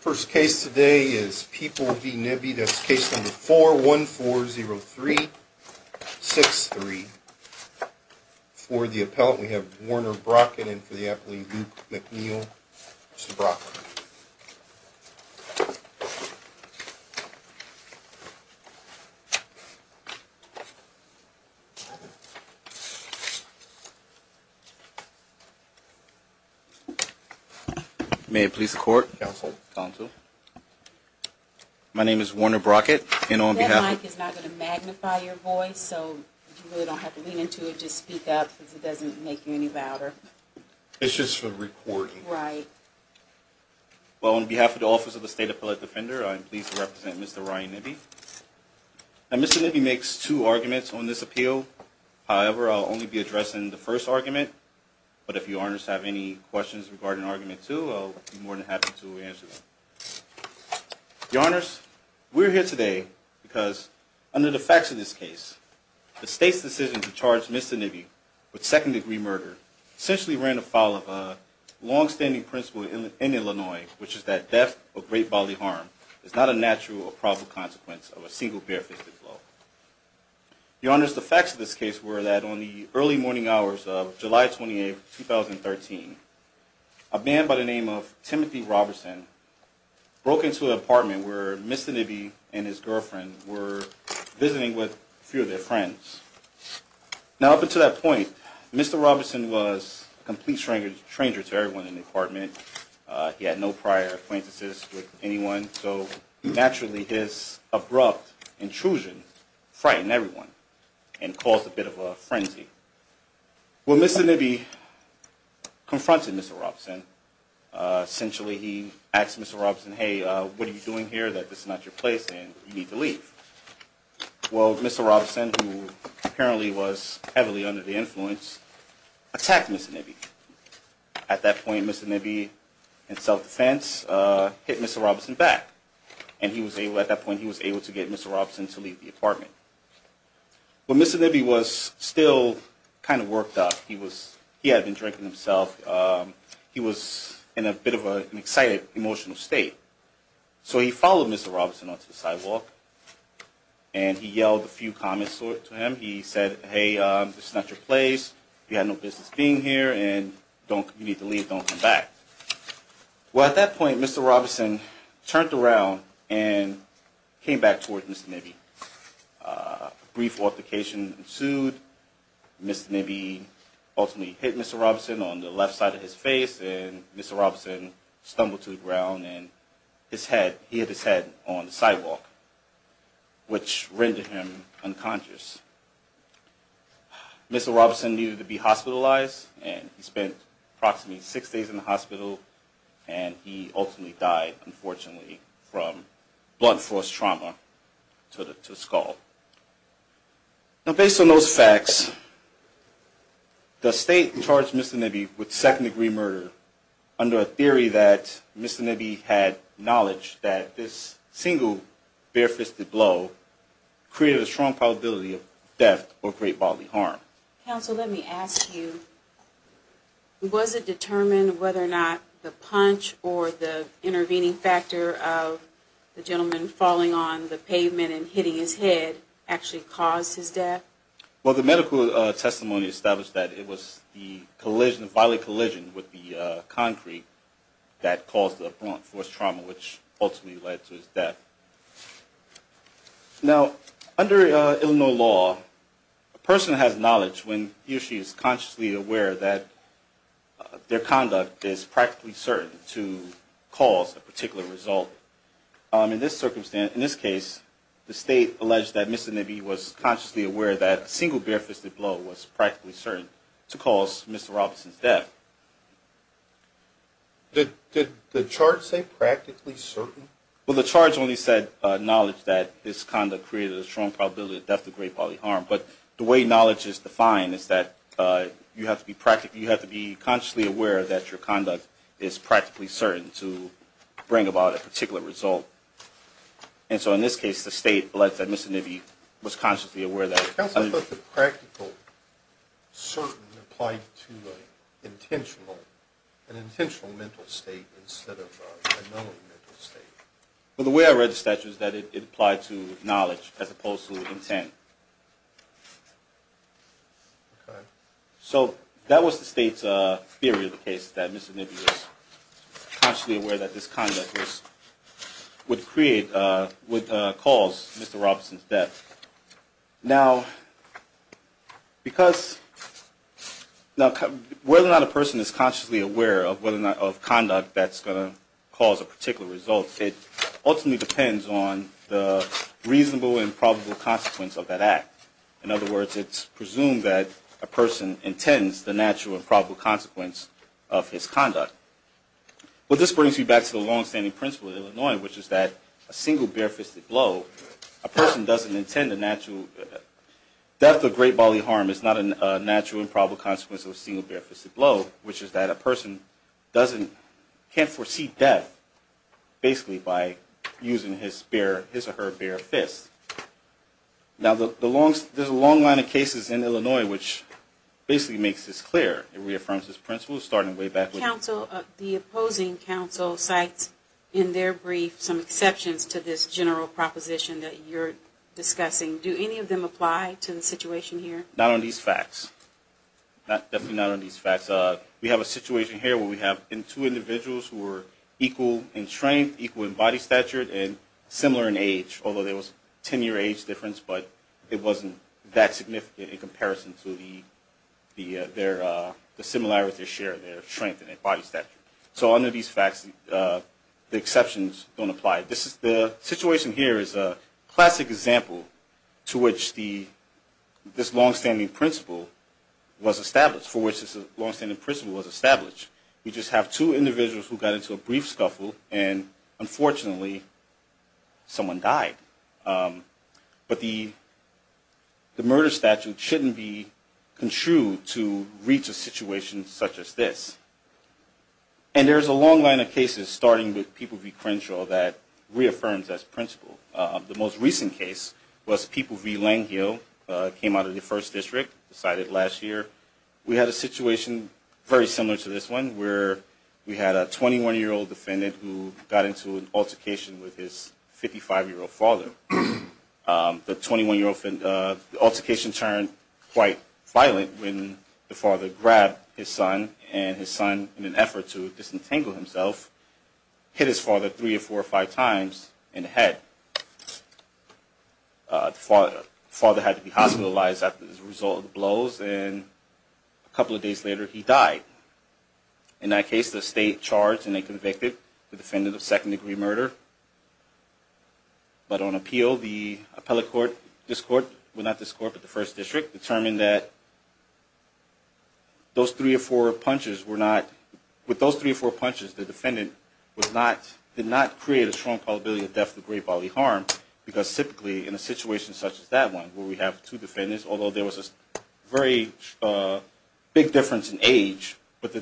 First case today is People v. Nibbe. That's case number 4140363. For the appellant, we have Warner Brockett and for the applant, Luke McNeil. Mr. Brockett. May it please the court? Counsel? Counsel? My name is Warner Brockett and on behalf of... That mic is not going to magnify your voice so you really don't have to lean into it. Just speak up because it doesn't make you any louder. It's just for recording. Right. Well, on behalf of the Office of the State Appellate Defender, I'm pleased to represent Mr. Ryan Nibbe. Mr. Nibbe makes two arguments on this appeal. However, I'll only be addressing the first argument, but if your honors have any questions regarding argument two, I'll be more than happy to answer them. Your honors, we're here today because under the facts of this case, the state's decision to charge Mr. Nibbe with second-degree murder essentially ran afoul of a long-standing principle in Illinois, which is that death or great bodily harm is not a natural or probable consequence of a single barefisted blow. Your honors, the facts of this case were that on the early morning hours of July 28, 2013, a man by the name of Timothy Robertson broke into an apartment where Mr. Nibbe and his girlfriend were visiting with a few of their friends. Now, up until that point, Mr. Robertson was a complete stranger to everyone in the apartment. He had no prior acquaintances with anyone, so naturally his abrupt intrusion frightened everyone and caused a bit of a frenzy. Well, Mr. Nibbe confronted Mr. Robertson. Essentially, he asked Mr. Robertson, hey, what are you doing here, that this is not your place, and you need to leave. Well, Mr. Robertson, who apparently was heavily under the influence, attacked Mr. Nibbe. At that point, Mr. Nibbe, in self-defense, hit Mr. Robertson back, and at that point he was able to get Mr. Robertson to leave the apartment. Well, Mr. Nibbe was still kind of worked up. He had been drinking himself. He was in a bit of an excited, emotional state. So he followed Mr. Robertson onto the sidewalk, and he yelled a few comments to him. He said, hey, this is not your place. You have no business being here, and you need to leave. Don't come back. Well, at that point, Mr. Robertson turned around and came back towards Mr. Nibbe. A brief altercation ensued. Mr. Nibbe ultimately hit Mr. Robertson on the left side of his face, and Mr. Robertson stumbled to the ground, and he hit his head on the sidewalk, which rendered him unconscious. Mr. Robertson needed to be hospitalized, and he spent approximately six days in the hospital, and he ultimately died, unfortunately, from blunt force trauma to the skull. Now, based on those facts, the state charged Mr. Nibbe with second-degree murder under a theory that Mr. Nibbe had knowledge that this single bare-fisted blow created a strong probability of death or great bodily harm. Counsel, let me ask you, was it determined whether or not the punch or the intervening factor of the gentleman falling on the pavement and hitting his head actually caused his death? Well, the medical testimony established that it was the collision, bodily collision, with the concrete that caused the blunt force trauma, which ultimately led to his death. Now, under Illinois law, a person has knowledge when he or she is consciously aware that their conduct is practically certain to cause a particular result. In this case, the state alleged that Mr. Nibbe was consciously aware that a single bare-fisted blow was practically certain to cause Mr. Robertson's death. Did the charge say practically certain? Well, the charge only said knowledge that this conduct created a strong probability of death or great bodily harm. But the way knowledge is defined is that you have to be consciously aware that your conduct is practically certain to bring about a particular result. And so, in this case, the state alleged that Mr. Nibbe was consciously aware that… Counsel, I thought the practical certain applied to an intentional mental state instead of a known mental state. Well, the way I read the statute is that it applied to knowledge as opposed to intent. So, that was the state's theory of the case, that Mr. Nibbe was consciously aware that this conduct would cause Mr. Robertson's death. Now, whether or not a person is consciously aware of conduct that's going to cause a particular result, it ultimately depends on the reasonable and probable consequence of that act. In other words, it's presumed that a person intends the natural and probable consequence of his conduct. Well, this brings me back to the long-standing principle of Illinois, which is that a single bare-fisted blow, a person doesn't intend the natural… Death or great bodily harm is not a natural and probable consequence of a single bare-fisted blow, which is that a person can't foresee death, basically, by using his or her bare fist. Now, there's a long line of cases in Illinois which basically makes this clear. It reaffirms this principle, starting way back with… The opposing counsel cites in their brief some exceptions to this general proposition that you're discussing. Do any of them apply to the situation here? Not on these facts. Definitely not on these facts. We have a situation here where we have two individuals who are equal in strength, equal in body stature, and similar in age, although there was a 10-year age difference, but it wasn't that significant in comparison to the similarities they share, their strength and their body stature. So, under these facts, the exceptions don't apply. The situation here is a classic example to which this long-standing principle was established, for which this long-standing principle was established. We just have two individuals who got into a brief scuffle, and unfortunately, someone died. But the murder statute shouldn't be contrued to reach a situation such as this. And there's a long line of cases, starting with People v. Crenshaw, that reaffirms this principle. The most recent case was People v. Langehill, came out of the 1st District, decided last year. We had a situation very similar to this one, where we had a 21-year-old defendant who got into an altercation with his 55-year-old father. The 21-year-old… the altercation turned quite violent when the father grabbed his son, and his son, in an effort to disentangle himself, hit his father three or four or five times in the head. The father had to be hospitalized as a result of the blows, and a couple of days later, he died. In that case, the state charged and they convicted the defendant of second-degree murder. But on appeal, the appellate court, this court, well, not this court, but the 1st District, determined that those three or four punches were not… with those three or four punches, the defendant was not… did not create a strong probability of death with great bodily harm, because typically, in a situation such as that one, where we have two defendants, although there was a very big difference in age, but the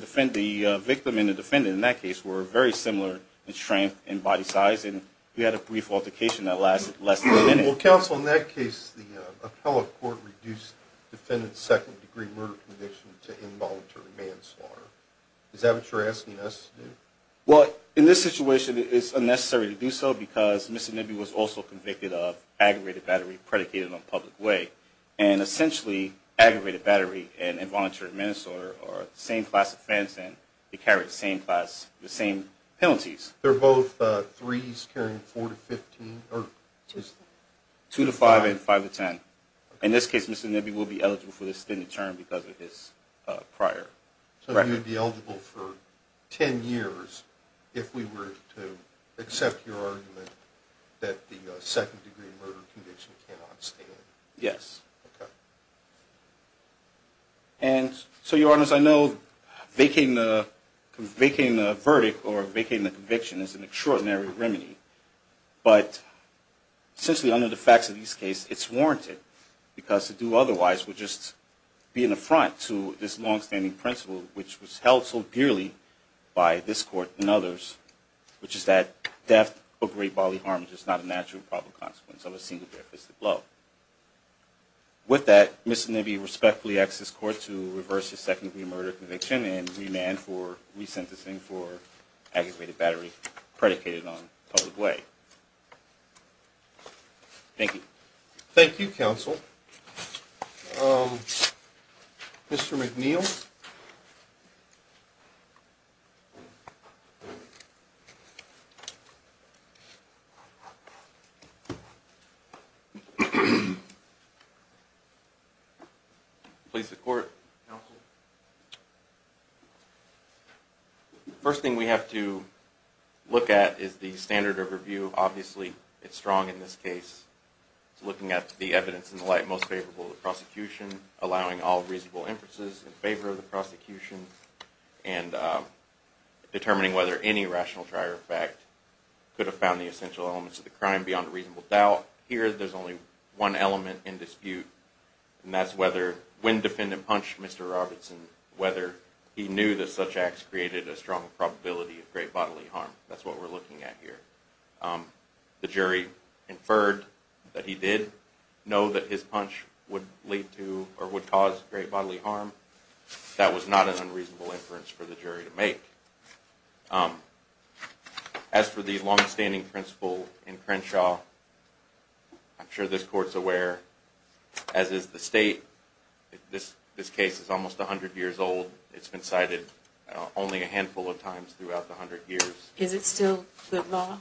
victim and the defendant in that case were very similar in strength and body size, and we had a brief altercation that lasted less than a minute. Well, counsel, in that case, the appellate court reduced the defendant's second-degree murder conviction to involuntary manslaughter. Is that what you're asking us to do? Well, in this situation, it's unnecessary to do so, because Mr. Nibby was also convicted of aggravated battery predicated on public way, and essentially, aggravated battery and involuntary manslaughter are the same class offense, and they carry the same class… the same penalties. They're both threes carrying four to 15, or just… Two to five and five to ten. In this case, Mr. Nibby will be eligible for the extended term because of his prior… Correct. So he would be eligible for ten years if we were to accept your argument that the second-degree murder conviction cannot stand. Yes. Okay. And so, Your Honors, I know vacating the verdict or vacating the conviction is an extraordinary remedy, but essentially, under the facts of this case, it's warranted, because to do otherwise would just be an affront to this long-standing principle, which was held so dearly by this Court and others, which is that death of great bodily harm is just not a natural and probable consequence of a single bare fisted blow. With that, Mr. Nibby respectfully asks this Court to reverse his second-degree murder conviction and remand for resentencing for aggravated battery predicated on public way. Thank you. Thank you, Counsel. Mr. McNeil? Yes. Please support, Counsel. The first thing we have to look at is the standard of review. Obviously, it's strong in this case. It's looking at the evidence in the light most favorable to the prosecution, allowing all reasonable inferences in favor of the prosecution, and determining whether any rational trier of fact could have found the essential elements of the crime beyond a reasonable doubt. Here, there's only one element in dispute, and that's whether when Defendant punched Mr. Robertson, whether he knew that such acts created a strong probability of great bodily harm. That's what we're looking at here. The jury inferred that he did know that his punch would cause great bodily harm. That was not an unreasonable inference for the jury to make. As for the longstanding principle in Crenshaw, I'm sure this Court's aware, as is the State, this case is almost 100 years old. It's been cited only a handful of times throughout the 100 years. Is it still good law?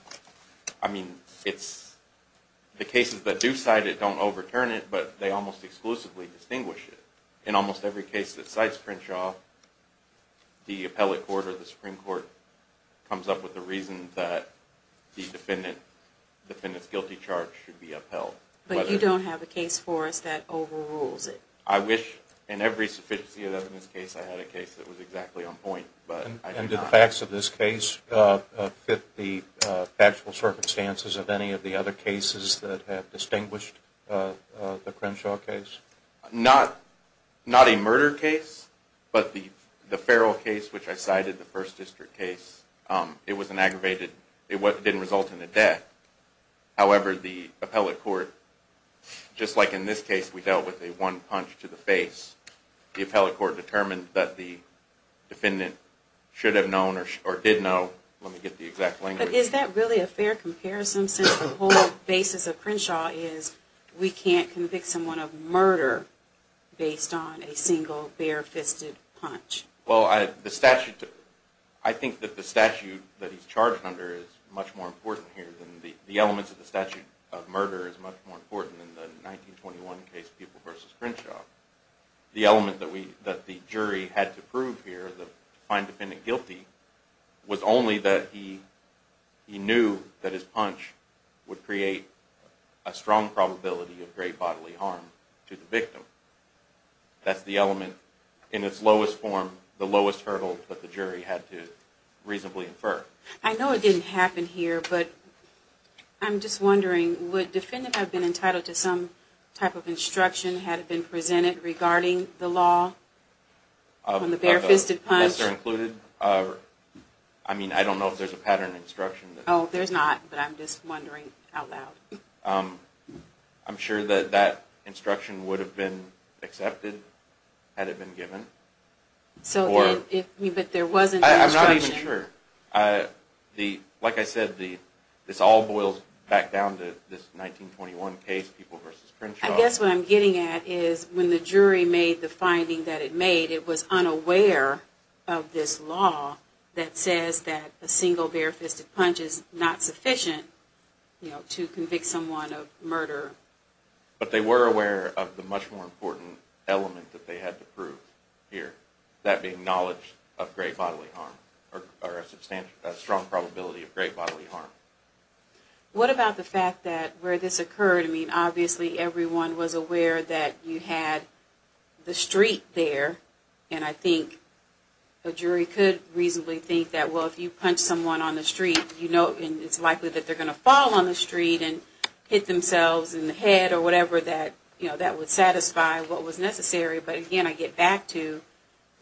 I mean, the cases that do cite it don't overturn it, but they almost exclusively distinguish it. In almost every case that cites Crenshaw, the Appellate Court or the Supreme Court comes up with a reason that the Defendant's guilty charge should be upheld. But you don't have a case for us that overrules it. I wish in every sufficiency of evidence case I had a case that was exactly on point, but I do not. And do the facts of this case fit the actual circumstances of any of the other cases that have distinguished the Crenshaw case? Not a murder case, but the Farrell case, which I cited, the First District case, it was an aggravated, it didn't result in a death. However, the Appellate Court, just like in this case we dealt with a one punch to the face, the Appellate Court determined that the Defendant should have known, or did know, let me get the exact language. But is that really a fair comparison since the whole basis of Crenshaw is we can't convict someone of murder based on a single bare-fisted punch? Well, I think that the statute that he's charged under is much more important here than the elements of the statute of murder is much more important than the 1921 case, People v. Crenshaw. The element that the jury had to prove here, to find the Defendant guilty, was only that he knew that his punch would create a strong probability of great bodily harm to the victim. That's the element in its lowest form, the lowest hurdle that the jury had to reasonably infer. I know it didn't happen here, but I'm just wondering, would Defendant have been entitled to some type of instruction had it been presented regarding the law on the bare-fisted punch? I mean, I don't know if there's a pattern of instruction. Oh, there's not, but I'm just wondering out loud. I'm sure that that instruction would have been accepted had it been given. But there wasn't an instruction? I'm not even sure. Like I said, this all boils back down to this 1921 case, People v. Crenshaw. I guess what I'm getting at is when the jury made the finding that it made, it was unaware of this law that says that a single bare-fisted punch is not sufficient to convict someone of murder. But they were aware of the much more important element that they had to prove here, that being knowledge of great bodily harm, or a strong probability of great bodily harm. What about the fact that where this occurred, I mean, obviously everyone was aware that you had the street there, and I think the jury could reasonably think that, well, if you punch someone on the street, you know it's likely that they're going to fall on the street and hit themselves in the head or whatever, that that would satisfy what was necessary. But again, I get back to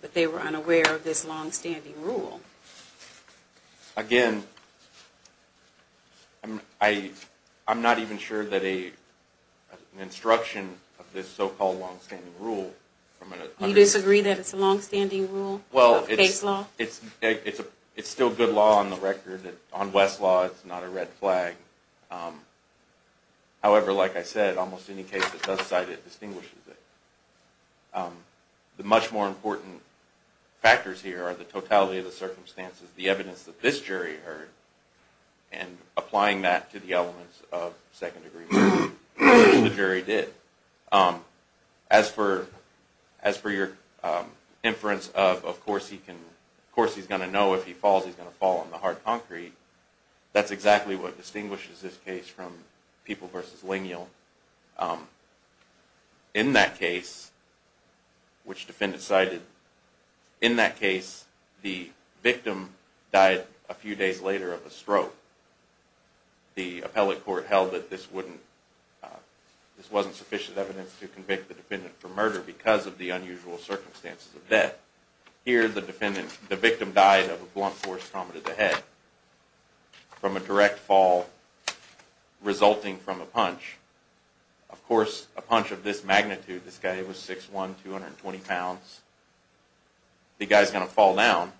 that they were unaware of this long-standing rule. Again, I'm not even sure that an instruction of this so-called long-standing rule. You disagree that it's a long-standing rule, a case law? It's still good law on the record. On West law, it's not a red flag. However, like I said, almost any case that does cite it distinguishes it. The much more important factors here are the totality of the circumstances, the evidence that this jury heard, and applying that to the elements of second-degree murder, which the jury did. As for your inference of, of course he's going to know if he falls, he's going to fall on the hard concrete, that's exactly what distinguishes this case from People v. Lignell. In that case, which defendants cited, in that case, the victim died a few days later of a stroke. The appellate court held that this wasn't sufficient evidence to convict the defendant for murder because of the unusual circumstances of death. Here, the victim died of a blunt force trauma to the head from a direct fall resulting from a punch. Of course, a punch of this magnitude, this guy was 6'1", 220 pounds. The guy's going to fall down,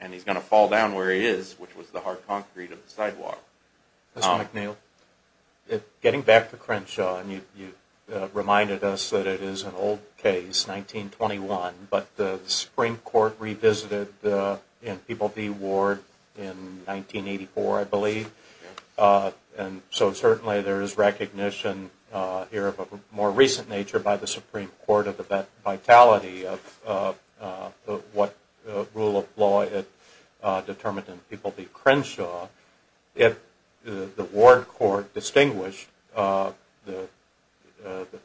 and he's going to fall down where he is, which was the hard concrete of the sidewalk. Mr. McNeil, getting back to Crenshaw, you reminded us that it is an old case, 1921, but the Supreme Court revisited in People v. Ward in 1984, I believe. And so certainly there is recognition here of a more recent nature by the Supreme Court of the vitality of what rule of law determined in People v. Crenshaw. If the Ward court distinguished the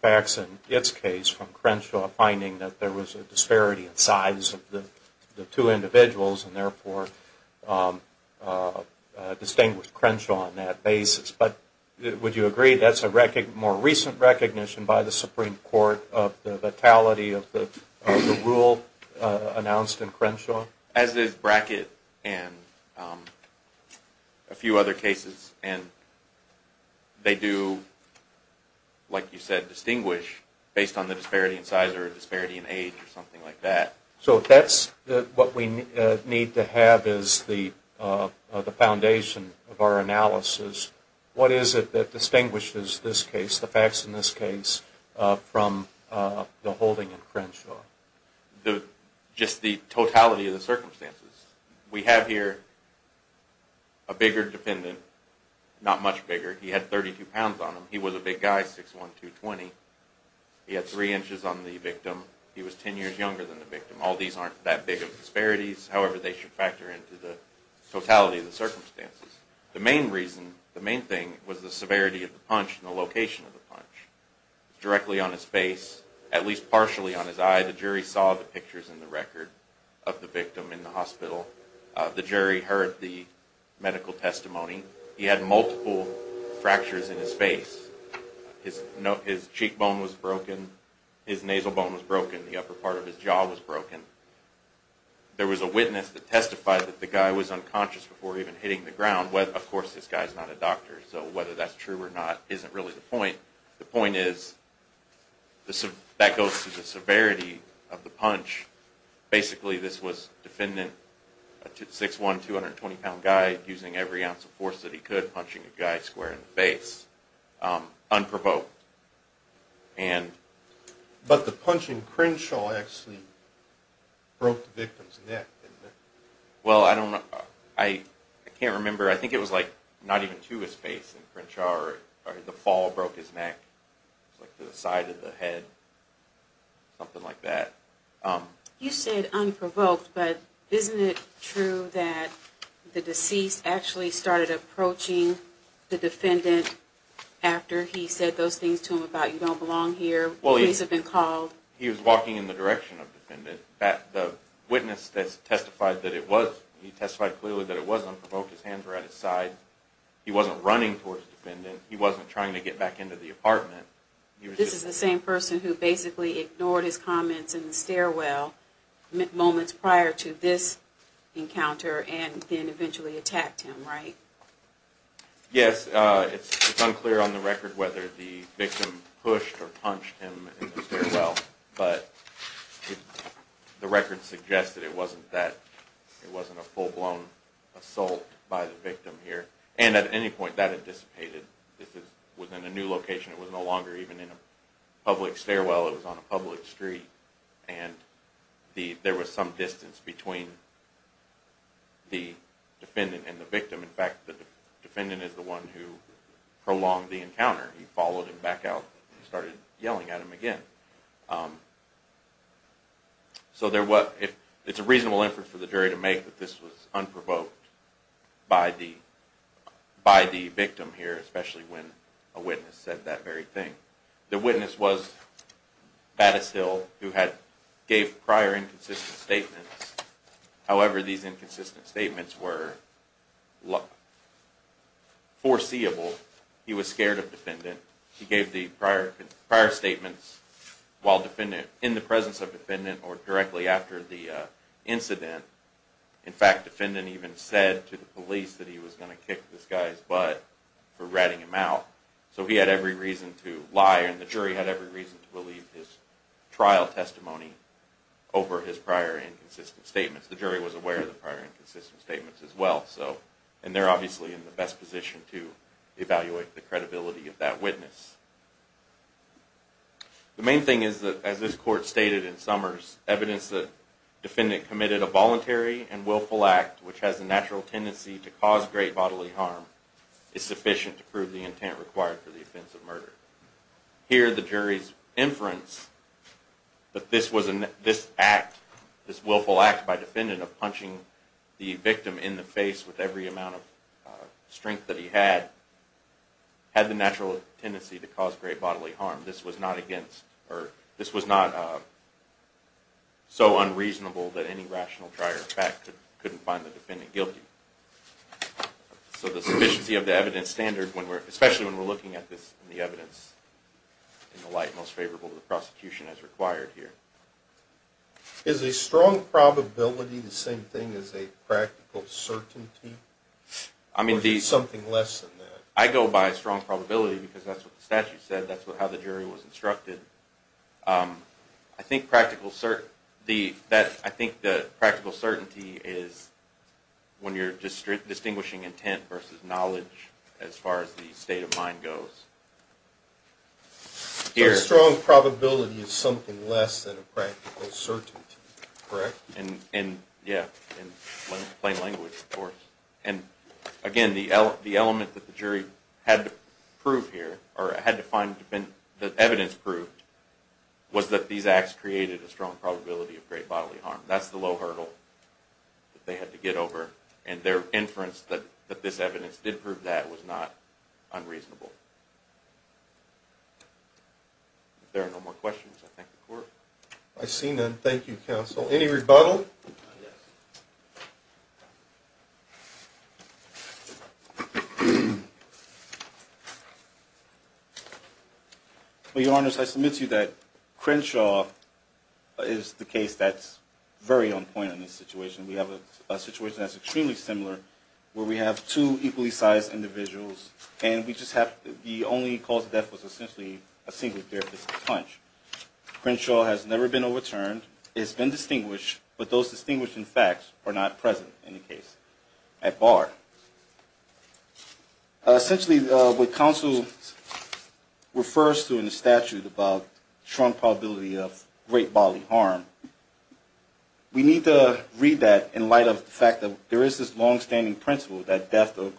facts in its case from Crenshaw finding that there was a disparity in size of the two individuals and therefore distinguished Crenshaw on that basis. But would you agree that's a more recent recognition by the Supreme Court of the vitality of the rule announced in Crenshaw? As is Brackett and a few other cases. And they do, like you said, distinguish based on the disparity in size or disparity in age or something like that. So if that's what we need to have as the foundation of our analysis, what is it that distinguishes this case, the facts in this case, from the holding in Crenshaw? Just the totality of the circumstances. We have here a bigger defendant, not much bigger, he had 32 pounds on him, he was a big guy, 6'1", 220. He had 3 inches on the victim, he was 10 years younger than the victim. All these aren't that big of disparities, however they should factor into the totality of the circumstances. The main reason, the main thing was the severity of the punch and the location of the punch. Directly on his face, at least partially on his eye, the jury saw the pictures in the record of the victim in the hospital. The jury heard the medical testimony. He had multiple fractures in his face. His cheekbone was broken, his nasal bone was broken, the upper part of his jaw was broken. There was a witness that testified that the guy was unconscious before even hitting the ground. Of course, this guy is not a doctor, so whether that's true or not isn't really the point. The point is, that goes to the severity of the punch. Basically, this was a defendant, a 6'1", 220 pound guy, using every ounce of force that he could, punching a guy square in the face, unprovoked. But the punch in Crenshaw actually broke the victim's neck, didn't it? Well, I don't know, I can't remember, I think it was like not even to his face in Crenshaw, or the fall broke his neck to the side of the head, something like that. You said unprovoked, but isn't it true that the deceased actually started approaching the defendant after he said those things to him about, you don't belong here, please have been called? He was walking in the direction of the defendant. The witness that testified that it was, he testified clearly that it was unprovoked, his hands were at his side. He wasn't running towards the defendant, he wasn't trying to get back into the apartment. This is the same person who basically ignored his comments in the stairwell moments prior to this encounter and then eventually attacked him, right? Yes, it's unclear on the record whether the victim pushed or punched him in the stairwell, but the record suggested it wasn't that, it wasn't a full-blown assault by the victim here. And at any point that had dissipated. This was in a new location, it was no longer even in a public stairwell, it was on a public street. And there was some distance between the defendant and the victim. In fact, the defendant is the one who prolonged the encounter. He followed him back out and started yelling at him again. So it's a reasonable inference for the jury to make that this was unprovoked by the victim here, especially when a witness said that very thing. The witness was Battis Hill, who gave prior inconsistent statements. However, these inconsistent statements were foreseeable. He was scared of the defendant. He gave the prior statements in the presence of the defendant or directly after the incident. In fact, the defendant even said to the police that he was going to kick this guy's butt for ratting him out. So he had every reason to lie and the jury had every reason to believe his trial testimony over his prior inconsistent statements. The jury was aware of the prior inconsistent statements as well. And they're obviously in the best position to evaluate the credibility of that witness. The main thing is that, as this court stated in Summers, evidence that the defendant committed a voluntary and willful act which has a natural tendency to cause great bodily harm is sufficient to prove the intent required for the offense of murder. Here, the jury's inference that this act, this willful act by the defendant of punching the victim in the face with every amount of strength that he had, had the natural tendency to cause great bodily harm. This was not so unreasonable that any rational trial could find the defendant guilty. So the sufficiency of the evidence standard, especially when we're looking at this in the evidence in the light most favorable to the prosecution as required here. Is a strong probability the same thing as a practical certainty? Or is it something less than that? I go by a strong probability because that's what the statute said. That's how the jury was instructed. I think practical certainty is when you're distinguishing intent versus knowledge as far as the state of mind goes. So a strong probability is something less than a practical certainty, correct? In plain language, of course. And again, the element that the jury had to prove here, or had the evidence prove, was that these acts created a strong probability of great bodily harm. That's the low hurdle that they had to get over. And their inference that this evidence did prove that was not unreasonable. If there are no more questions, I thank the court. I see none. Thank you, counsel. Any rebuttal? Well, Your Honors, I submit to you that Crenshaw is the case that's very on point in this situation. We have a situation that's extremely similar where we have two equally sized individuals and the only cause of death was essentially a single therapist's punch. Crenshaw has never been overturned. It's been distinguished, but those distinguished in fact are not present in the case. Essentially, what counsel refers to in the statute about strong probability of great bodily harm, we need to read that in light of the fact that there is this longstanding principle that death or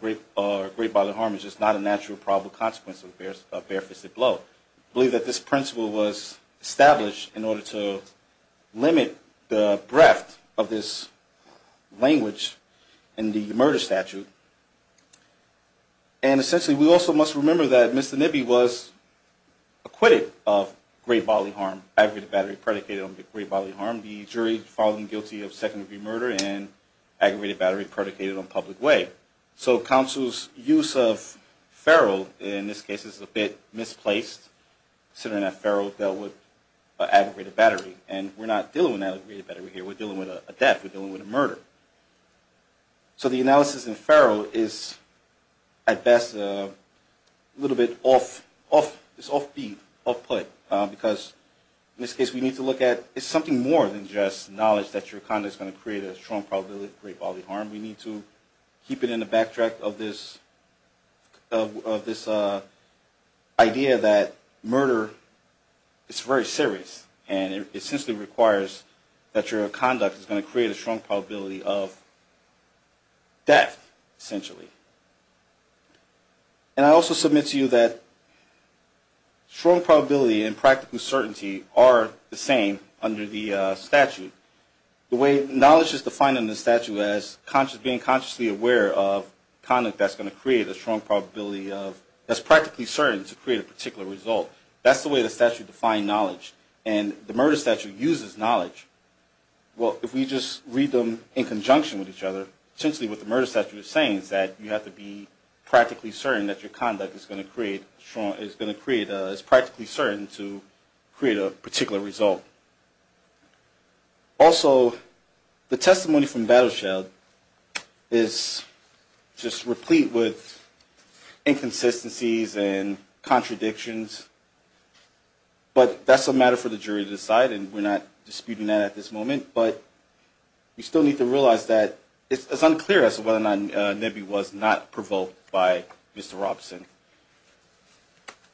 great bodily harm is just not a natural probable consequence of a bare-fisted blow. I believe that this principle was established in order to limit the breadth of this language in the murder statute. And essentially, we also must remember that Mr. Nibby was acquitted of great bodily harm, aggravated battery predicated on great bodily harm. The jury found him guilty of second-degree murder and aggravated battery predicated on public way. So counsel's use of feral in this case is a bit misplaced, considering that feral dealt with aggravated battery. And we're not dealing with an aggravated battery here. We're dealing with a death. We're dealing with a murder. So the analysis in feral is at best a little bit off-beat, off-put, because in this case we need to look at it's something more than just knowledge that your conduct is going to create a strong probability of great bodily harm. We need to keep it in the backtrack of this idea that murder is very serious, and it essentially requires that your conduct is going to create a strong probability of death, essentially. And I also submit to you that strong probability and practical certainty are the same under the statute. The way knowledge is defined in the statute as being consciously aware of conduct that's going to create a strong probability of that's practically certain to create a particular result. That's the way the statute defines knowledge. And the murder statute uses knowledge. Well, if we just read them in conjunction with each other, essentially what the murder statute is saying is that you have to be practically certain that your conduct is going to create, is practically certain to create a particular result. Also, the testimony from Battlesheld is just replete with inconsistencies and contradictions. But that's a matter for the jury to decide, and we're not disputing that at this moment. But we still need to realize that it's unclear as to whether or not Nibby was not provoked by Mr. Robson.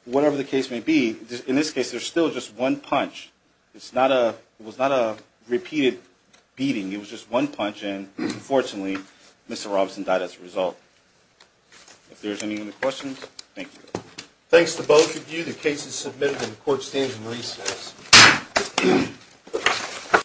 Whatever the case may be, in this case, there's still just one punch. It was not a repeated beating. It was just one punch, and unfortunately, Mr. Robson died as a result. If there's any other questions, thank you. Thanks to both of you. The case is submitted, and the Court stands in recess.